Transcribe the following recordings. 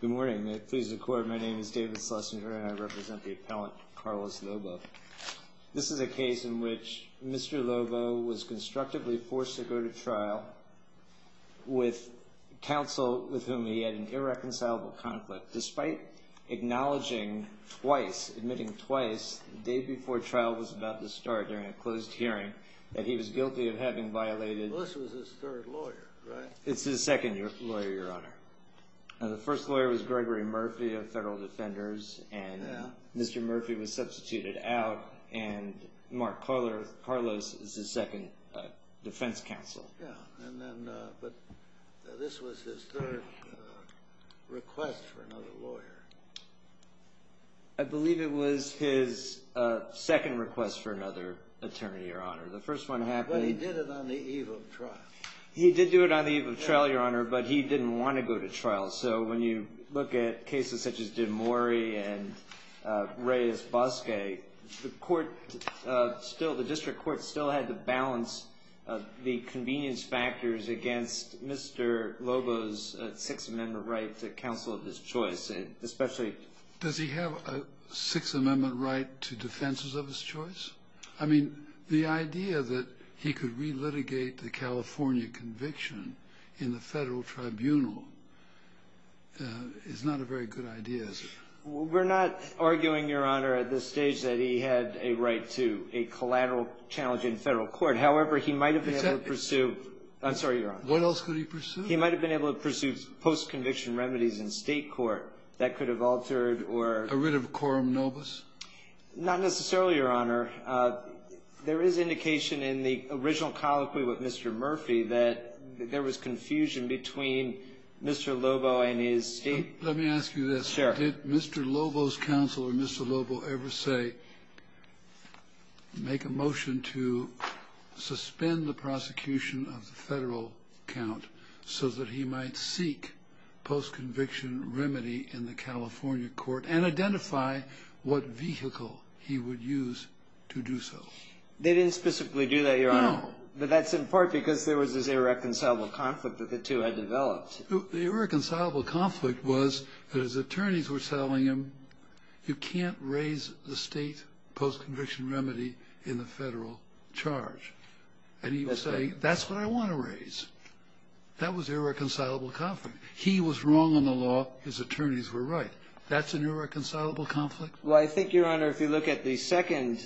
Good morning, may it please the court, my name is David Schlesinger and I represent the appellant Carlos Lobo. This is a case in which Mr. Lobo was constructively forced to go to trial with counsel with whom he had an irreconcilable conflict. Despite acknowledging twice, admitting twice, the day before trial was about to start during a closed hearing, that he was guilty of having violated... Well, this was his third lawyer, right? It's his second lawyer, Your Honor. The first lawyer was Gregory Murphy of Federal Defenders and Mr. Murphy was substituted out and Mark Carlos is his second defense counsel. Yeah, but this was his third request for another lawyer. I believe it was his second request for another attorney, Your Honor. The first one happened... But he did it on the eve of trial. He did do it on the eve of trial, Your Honor, but he didn't want to go to trial. So when you look at cases such as Dimori and Reyes-Bosquet, the court still, the district court still had to balance the convenience factors against Mr. Lobo's Sixth Amendment right to counsel of his choice, especially... Did he have a Sixth Amendment right to defense of his choice? I mean, the idea that he could relitigate the California conviction in the federal tribunal is not a very good idea, is it? We're not arguing, Your Honor, at this stage that he had a right to a collateral challenge in federal court. However, he might have been able to pursue... I'm sorry, Your Honor. What else could he pursue? He might have been able to pursue post-conviction remedies in State court that could have altered or... A writ of quorum nobis? Not necessarily, Your Honor. There is indication in the original colloquy with Mr. Murphy that there was confusion between Mr. Lobo and his State... Let me ask you this. Did Mr. Lobo's counsel or Mr. Lobo ever say, make a motion to suspend the prosecution of the federal count so that he might seek post-conviction remedy in the California court and identify what vehicle he would use to do so? They didn't specifically do that, Your Honor. No. But that's in part because there was this irreconcilable conflict that the two had developed. The irreconcilable conflict was that his attorneys were telling him, you can't raise the State post-conviction remedy in the federal charge. And he was saying, that's what I want to raise. That was irreconcilable conflict. He was wrong on the law. His attorneys were right. That's an irreconcilable conflict? Well, I think, Your Honor, if you look at the second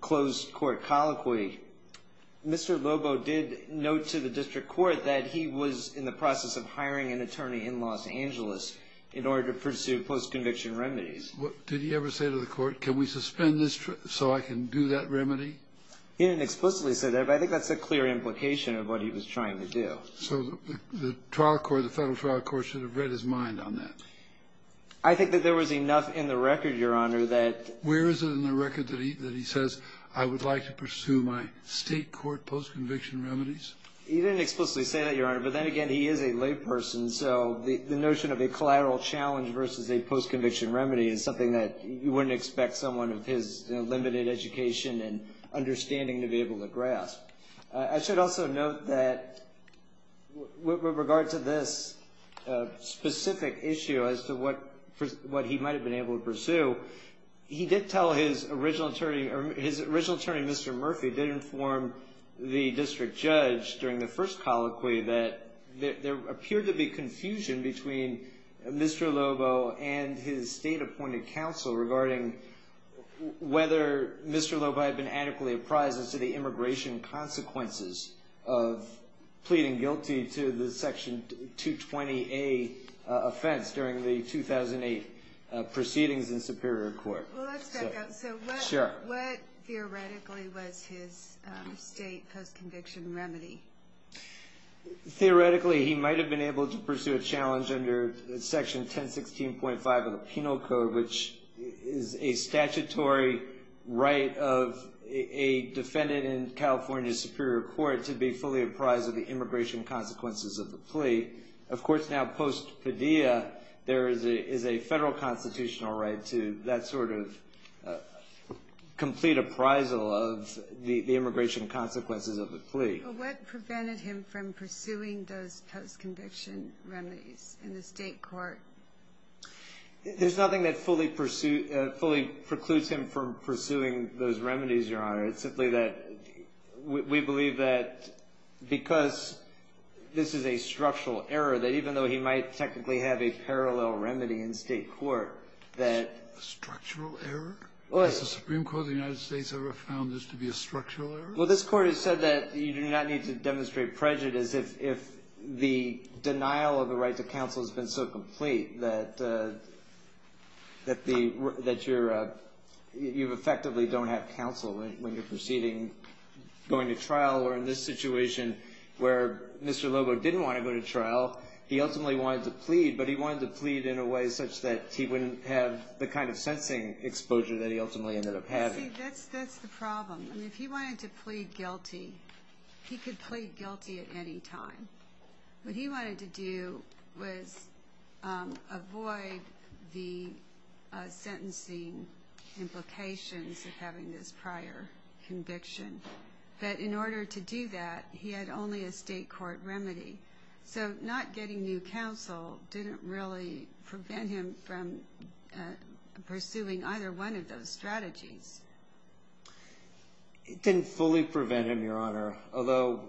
closed court colloquy, Mr. Lobo did note to the district court that he was in the process of hiring an attorney in Los Angeles in order to pursue post-conviction remedies. Did he ever say to the court, can we suspend this so I can do that remedy? He didn't explicitly say that, but I think that's a clear implication of what he was trying to do. So the trial court, the federal trial court should have read his mind on that. I think that there was enough in the record, Your Honor, that... Where is it in the record that he says, I would like to pursue my State court post-conviction remedies? He didn't explicitly say that, Your Honor, but then again, he is a layperson. So the notion of a collateral challenge versus a post-conviction remedy is something that you wouldn't expect someone of his limited education and understanding to be able to grasp. I should also note that with regard to this specific issue as to what he might have been able to pursue, he did tell his original attorney... His original attorney, Mr. Murphy, did inform the district judge during the first colloquy that there appeared to be confusion between Mr. Lobo and his State-appointed counsel regarding whether Mr. Lobo had been adequately apprised as to the immigration consequences of pleading guilty to the Section 220A offense during the 2008 proceedings in Superior Court. Well, let's back up. Sure. So what theoretically was his State post-conviction remedy? Theoretically, he might have been able to pursue a challenge under Section 1016.5 of the Penal Code, which is a statutory right of a defendant in California Superior Court to be fully apprised of the immigration consequences of the plea. Of course, now post-pedia, there is a Federal constitutional right to that sort of complete appraisal of the immigration consequences of the plea. Well, what prevented him from pursuing those post-conviction remedies in the State court? There's nothing that fully precludes him from pursuing those remedies, Your Honor. It's simply that we believe that because this is a structural error, that even though he might technically have a parallel remedy in State court, that... Structural error? What? Has the Supreme Court of the United States ever found this to be a structural error? Well, this Court has said that you do not need to demonstrate prejudice if the denial of the right to counsel has been so complete that you effectively don't have counsel when you're proceeding, going to trial. Or in this situation where Mr. Lobo didn't want to go to trial, he ultimately wanted to plead, but he wanted to plead in a way such that he wouldn't have the kind of sensing exposure that he ultimately ended up having. See, that's the problem. If he wanted to plead guilty, he could plead guilty at any time. What he wanted to do was avoid the sentencing implications of having this prior conviction. But in order to do that, he had only a State court remedy. So not getting new counsel didn't really prevent him from pursuing either one of those strategies. It didn't fully prevent him, Your Honor, although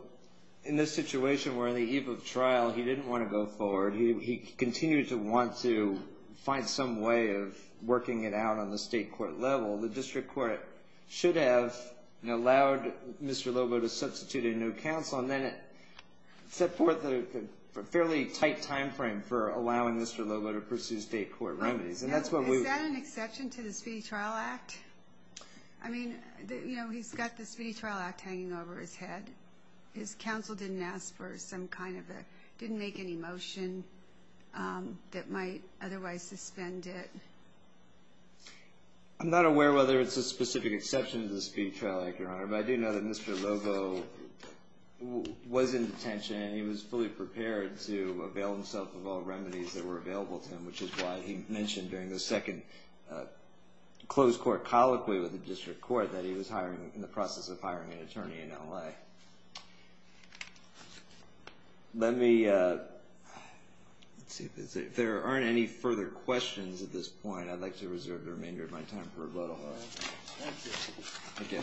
in this situation where in the eve of trial he didn't want to go forward, he continued to want to find some way of working it out on the State court level. The District Court should have allowed Mr. Lobo to substitute a new counsel, and then it set forth a fairly tight timeframe for allowing Mr. Lobo to pursue State court remedies. Is that an exception to the Speedy Trial Act? I mean, you know, he's got the Speedy Trial Act hanging over his head. His counsel didn't ask for some kind of a, didn't make any motion that might otherwise suspend it. I'm not aware whether it's a specific exception to the Speedy Trial Act, Your Honor, but I do know that Mr. Lobo was in detention and he was fully prepared to avail himself of all remedies that were available to him, which is why he mentioned during the second closed court colloquy with the District Court that he was hiring, in the process of hiring an attorney in L.A. Let me, let's see, if there aren't any further questions at this point, I'd like to reserve the remainder of my time for rebuttal. Thank you. Thank you.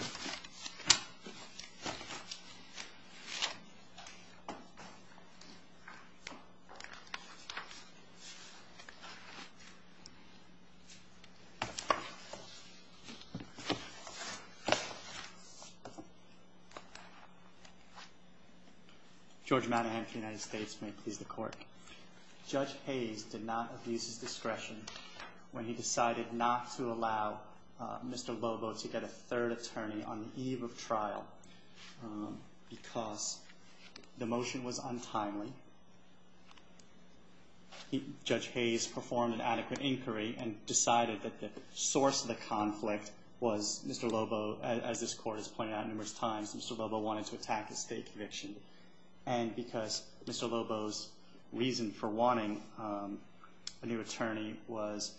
George Manahan for the United States. May it please the Court. Judge Hayes did not abuse his discretion when he decided not to allow Mr. Lobo to get a third attorney on the eve of trial because the motion was untimely. Judge Hayes performed an adequate inquiry and decided that the source of the conflict was Mr. Lobo, as this Court has pointed out numerous times, Mr. Lobo wanted to attack a state conviction. And because Mr. Lobo's reason for wanting a new attorney was,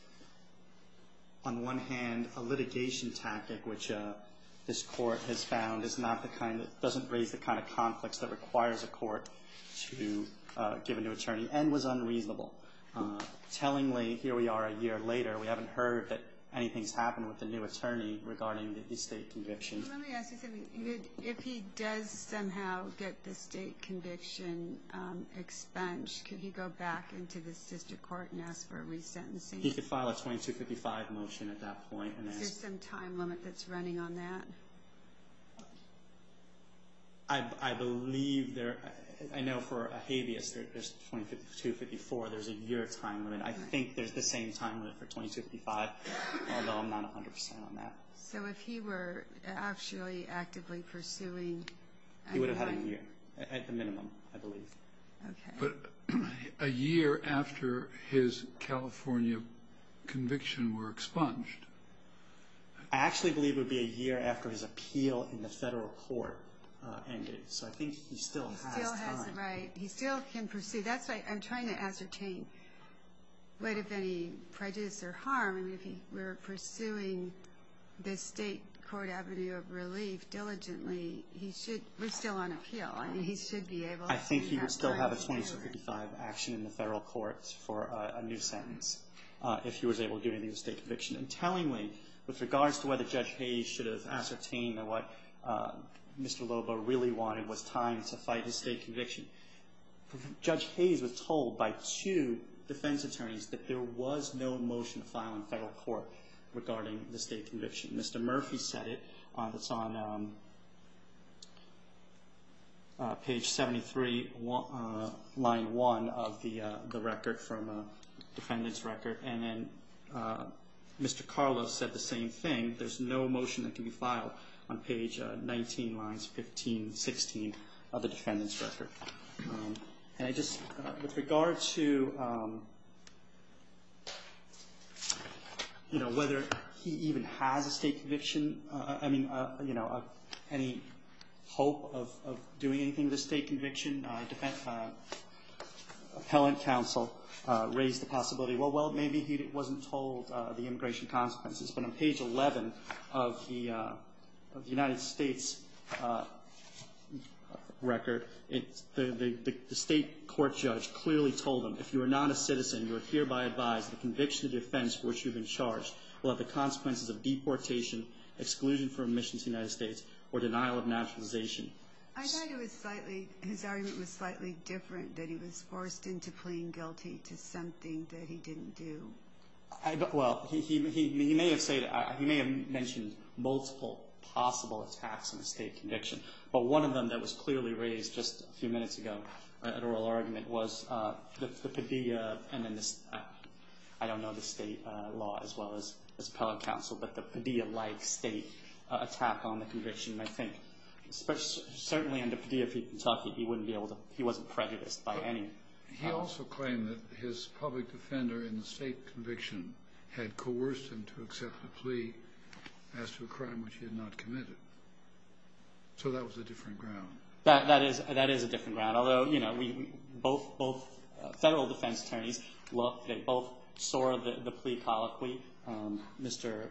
on one hand, a litigation tactic, which this Court has found is not the kind, doesn't raise the kind of conflicts that requires a court to give a new attorney, and was unreasonable. Tellingly, here we are a year later, we haven't heard that anything's happened with the new attorney regarding the state conviction. Let me ask you something. If he does somehow get the state conviction expunged, could he go back into the district court and ask for a resentencing? He could file a 2255 motion at that point. Is there some time limit that's running on that? I believe there, I know for a habeas, there's 2254, there's a year time limit. I think there's the same time limit for 2255, although I'm not 100% on that. So if he were actually actively pursuing... He would have had a year, at the minimum, I believe. Okay. But a year after his California conviction were expunged... I actually believe it would be a year after his appeal in the federal court ended, so I think he still has time. Right. He still can pursue. That's why I'm trying to ascertain what if any prejudice or harm. I mean, if he were pursuing the state court avenue of relief diligently, he should, we're still on appeal. I mean, he should be able... I think he would still have a 2255 action in the federal court for a new sentence, if he was able to get a new state conviction. And tellingly, with regards to whether Judge Hayes should have ascertained that what Mr. Lobo really wanted was time to fight his state conviction, Judge Hayes was told by two defense attorneys that there was no motion to file in federal court regarding the state conviction. Mr. Murphy said it. It's on page 73, line 1 of the record from a defendant's record. And then Mr. Carlos said the same thing. There's no motion that can be filed on page 19, lines 15 and 16 of the defendant's record. And I just, with regard to whether he even has a state conviction, I mean, any hope of doing anything with a state conviction, defense appellant counsel raised the possibility. Well, maybe he wasn't told the immigration consequences. But on page 11 of the United States record, the state court judge clearly told him, if you are not a citizen, you are hereby advised the conviction of the offense for which you have been charged will have the consequences of deportation, exclusion from admission to the United States, or denial of naturalization. I thought it was slightly, his argument was slightly different, that he was forced into pleading guilty to something that he didn't do. Well, he may have mentioned multiple possible attacks on a state conviction, but one of them that was clearly raised just a few minutes ago at oral argument was the Padilla, and then I don't know the state law as well as appellant counsel, but the Padilla-like state attack on the conviction, I think. Certainly under Padilla v. Kentucky, he wouldn't be able to, he wasn't prejudiced by any. He also claimed that his public defender in the state conviction had coerced him to accept a plea as to a crime which he had not committed. So that was a different ground. That is a different ground, although, you know, both federal defense attorneys, they both saw the plea colloquy. Mr.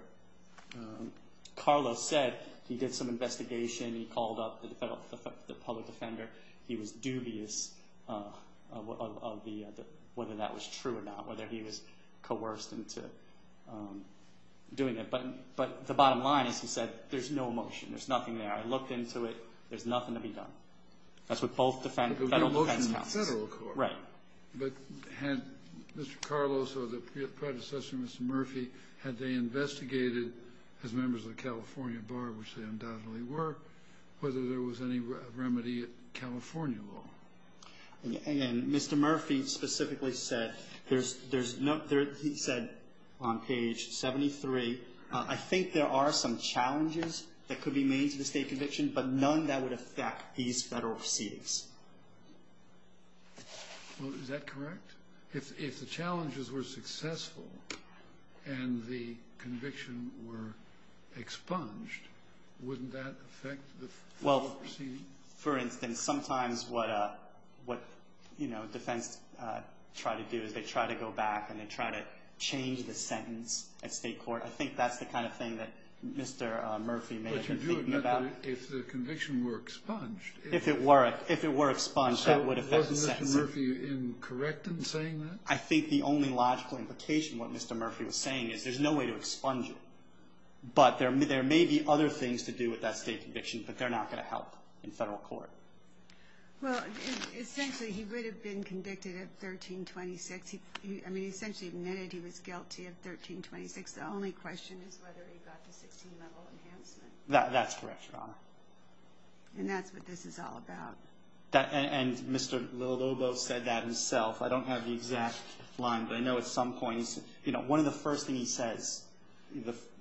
Carlos said he did some investigation. He called up the public defender. He was dubious of whether that was true or not, whether he was coerced into doing it. But the bottom line is, he said, there's no motion. There's nothing there. I looked into it. There's nothing to be done. That's what both federal defense counsels. Right. But had Mr. Carlos or the predecessor, Mr. Murphy, had they investigated, as members of the California Bar, which they undoubtedly were, whether there was any remedy at California law? And Mr. Murphy specifically said, there's no, he said on page 73, I think there are some challenges that could be made to the state conviction, but none that would affect these federal proceedings. Well, is that correct? If the challenges were successful and the conviction were expunged, wouldn't that affect the federal proceedings? Well, for instance, sometimes what, you know, defense try to do is they try to go back and they try to change the sentence at state court. I think that's the kind of thing that Mr. Murphy may have been thinking about. But if the conviction were expunged. If it were, if it were expunged, that would affect the sentence. Wasn't Mr. Murphy incorrect in saying that? I think the only logical implication what Mr. Murphy was saying is there's no way to expunge it. But there may be other things to do with that state conviction, but they're not going to help in federal court. Well, essentially he would have been convicted at 1326. I mean, essentially admitted he was guilty of 1326. The only question is whether he got the 16-level enhancement. That's correct, Your Honor. And that's what this is all about. And Mr. Lobo said that himself. I don't have the exact line, but I know at some point he said, you know, one of the first things he says,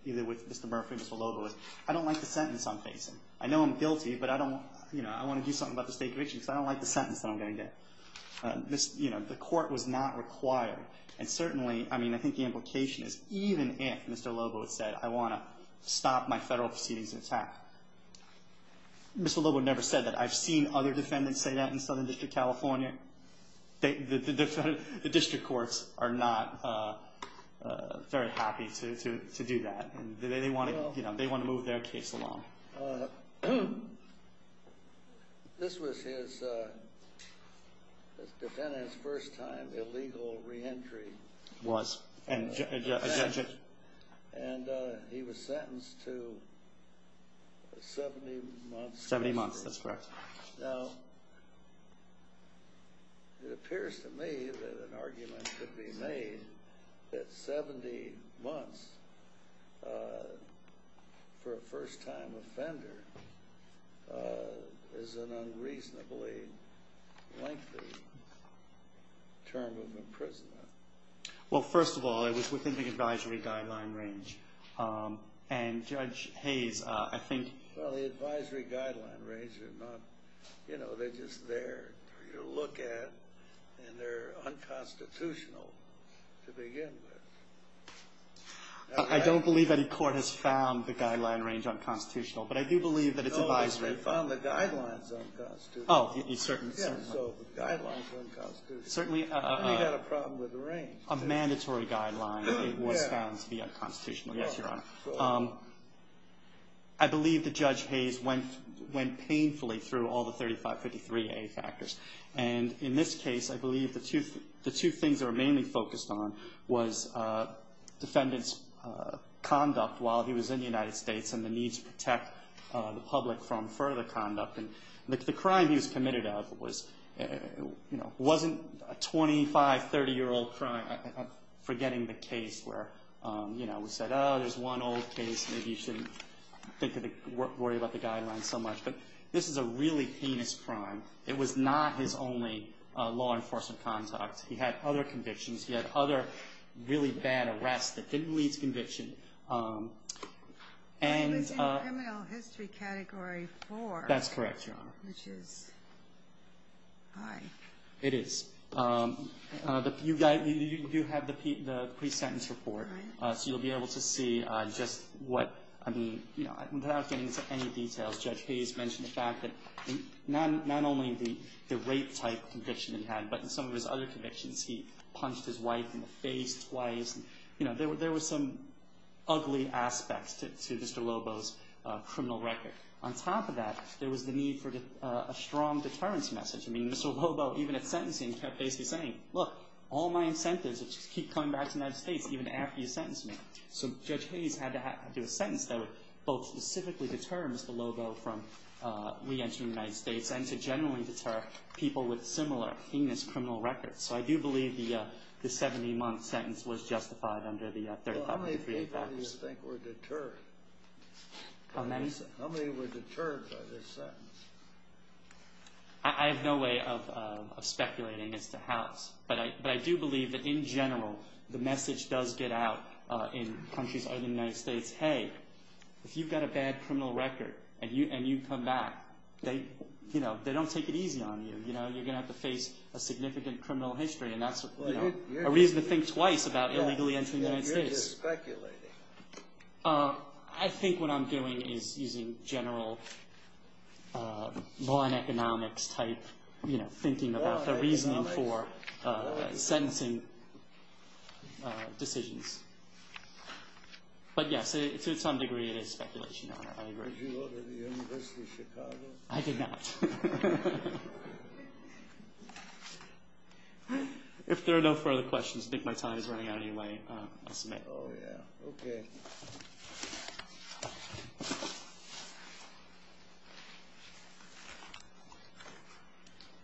either with Mr. Murphy or Mr. Lobo, is I don't like the sentence I'm facing. I know I'm guilty, but I don't, you know, I want to do something about the state conviction because I don't like the sentence that I'm going to get. You know, the court was not required. And certainly, I mean, I think the implication is even if Mr. Lobo had said, I want to stop my federal proceedings and attack, Mr. Lobo never said that. I've seen other defendants say that in Southern District, California. The district courts are not very happy to do that. They want to move their case along. This was his defendant's first time illegal reentry. It was. And he was sentenced to 70 months. Seventy months, that's correct. Now, it appears to me that an argument could be made that 70 months for a first-time offender is an unreasonably lengthy term of imprisonment. Well, first of all, it was within the advisory guideline range. And Judge Hayes, I think. Well, the advisory guideline range is not, you know, they're just there to look at and they're unconstitutional to begin with. I don't believe any court has found the guideline range unconstitutional, but I do believe that it's advisory. No, they found the guidelines unconstitutional. Oh, certainly. Yeah, so the guidelines were unconstitutional. Certainly. And we had a problem with the range. A mandatory guideline was found to be unconstitutional, yes, Your Honor. I believe that Judge Hayes went painfully through all the 3553A factors. And in this case, I believe the two things that were mainly focused on was defendant's conduct while he was in the United States and the need to protect the public from further conduct. And the crime he was committed of wasn't a 25-, 30-year-old crime. I'm forgetting the case where we said, oh, there's one old case, maybe you shouldn't worry about the guidelines so much. But this is a really heinous crime. It was not his only law enforcement conduct. He had other convictions. He had other really bad arrests that didn't lead to conviction. I was in criminal history category four. That's correct, Your Honor. Which is high. It is. You do have the pre-sentence report. So you'll be able to see just what, I mean, without getting into any details, Judge Hayes mentioned the fact that not only the rape-type conviction he had, but in some of his other convictions he punched his wife in the face twice. There were some ugly aspects to Mr. Lobo's criminal record. On top of that, there was the need for a strong deterrence message. I mean, Mr. Lobo, even at sentencing, kept basically saying, look, all my incentives are to keep coming back to the United States even after you sentence me. So Judge Hayes had to do a sentence that would both specifically deter Mr. Lobo from re-entering the United States and to generally deter people with similar heinous criminal records. So I do believe the 70-month sentence was justified under the 3,503 effects. How many people do you think were deterred? How many? How many were deterred by this sentence? I have no way of speculating as to how, but I do believe that in general the message does get out in countries other than the United States, hey, if you've got a bad criminal record and you come back, they don't take it easy on you. You're going to have to face a significant criminal history, and that's a reason to think twice about illegally entering the United States. You're just speculating. I think what I'm doing is using general law and economics type thinking about the reasoning for sentencing decisions. But, yes, to some degree it is speculation. Did you go to the University of Chicago? I did not. If there are no further questions, I think my time is running out anyway. I'll submit. Oh, yeah. Okay. Thank you.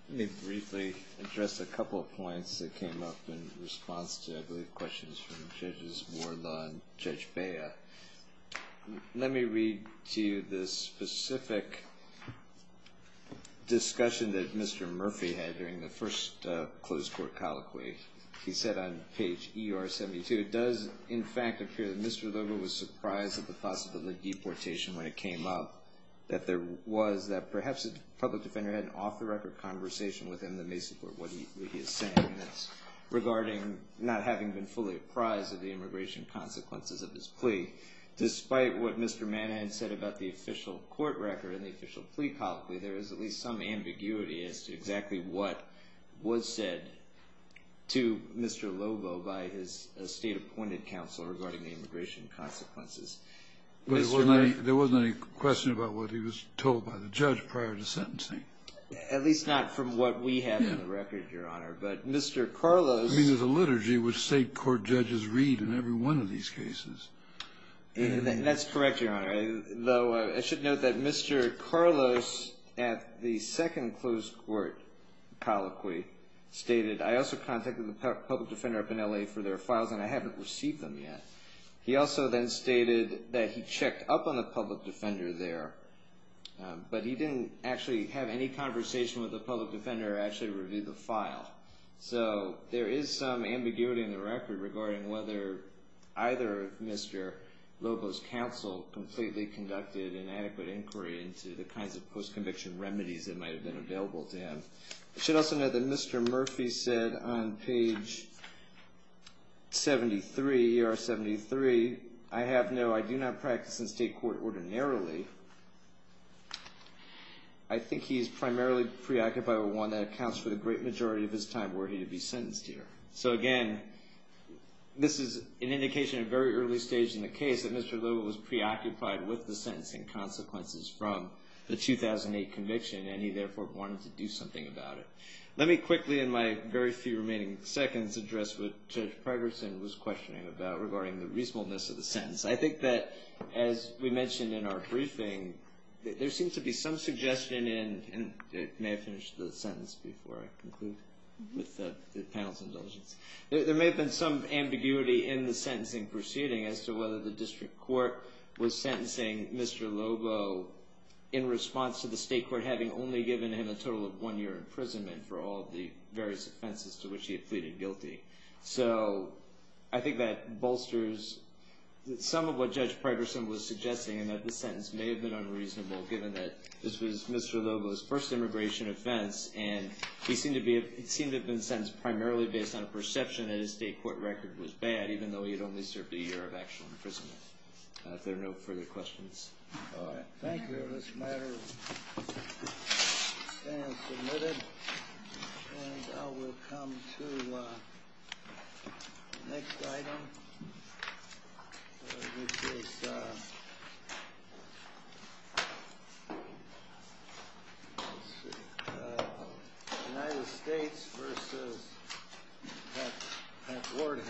Let me briefly address a couple of points that came up in response to, I believe, questions from Judges Wardlaw and Judge Bea. Let me read to you the specific discussion that Mr. Murphy had during the first closed court colloquy. He said on page ER72, it does, in fact, appear that Mr. Lugar was surprised at the possibility of deportation when it came up, that there was that perhaps a public defender had an off-the-record conversation with him that may support what he is saying regarding not having been fully apprised of the immigration consequences of his plea. Despite what Mr. Mann had said about the official court record and the official plea colloquy, there is at least some ambiguity as to exactly what was said to Mr. Lobo by his state-appointed counsel regarding the immigration consequences. There wasn't any question about what he was told by the judge prior to sentencing. At least not from what we have in the record, Your Honor. But Mr. Carlos – I mean, there's a liturgy which state court judges read in every one of these cases. That's correct, Your Honor. Though I should note that Mr. Carlos at the second closed court colloquy stated, I also contacted the public defender up in L.A. for their files and I haven't received them yet. He also then stated that he checked up on the public defender there, but he didn't actually have any conversation with the public defender or actually review the file. So there is some ambiguity in the record regarding whether either of Mr. Lobo's counsel completely conducted an adequate inquiry into the kinds of post-conviction remedies that might have been available to him. I should also note that Mr. Murphy said on page 73, ER 73, I have no – I do not practice in state court ordinarily. I think he's primarily preoccupied with one that accounts for the great majority of his time worthy to be sentenced here. So, again, this is an indication at a very early stage in the case that Mr. Lobo was preoccupied with the sentencing consequences from the 2008 conviction and he therefore wanted to do something about it. Let me quickly, in my very few remaining seconds, address what Judge Pregerson was questioning about regarding the reasonableness of the sentence. I think that, as we mentioned in our briefing, there seems to be some suggestion in – and may I finish the sentence before I conclude with the panel's indulgence? There may have been some ambiguity in the sentencing proceeding as to whether the district court was sentencing Mr. Lobo in response to the state court having only given him a total of one year imprisonment for all of the various offenses to which he had pleaded guilty. So, I think that bolsters some of what Judge Pregerson was suggesting and that the sentence may have been unreasonable given that this was Mr. Lobo's first immigration offense and he seemed to have been sentenced primarily based on a perception that his state court record was bad even though he had only served a year of actual imprisonment. If there are no further questions. All right. Thank you. This matter is now submitted. And now we'll come to the next item, which is United States v. Pat Warden.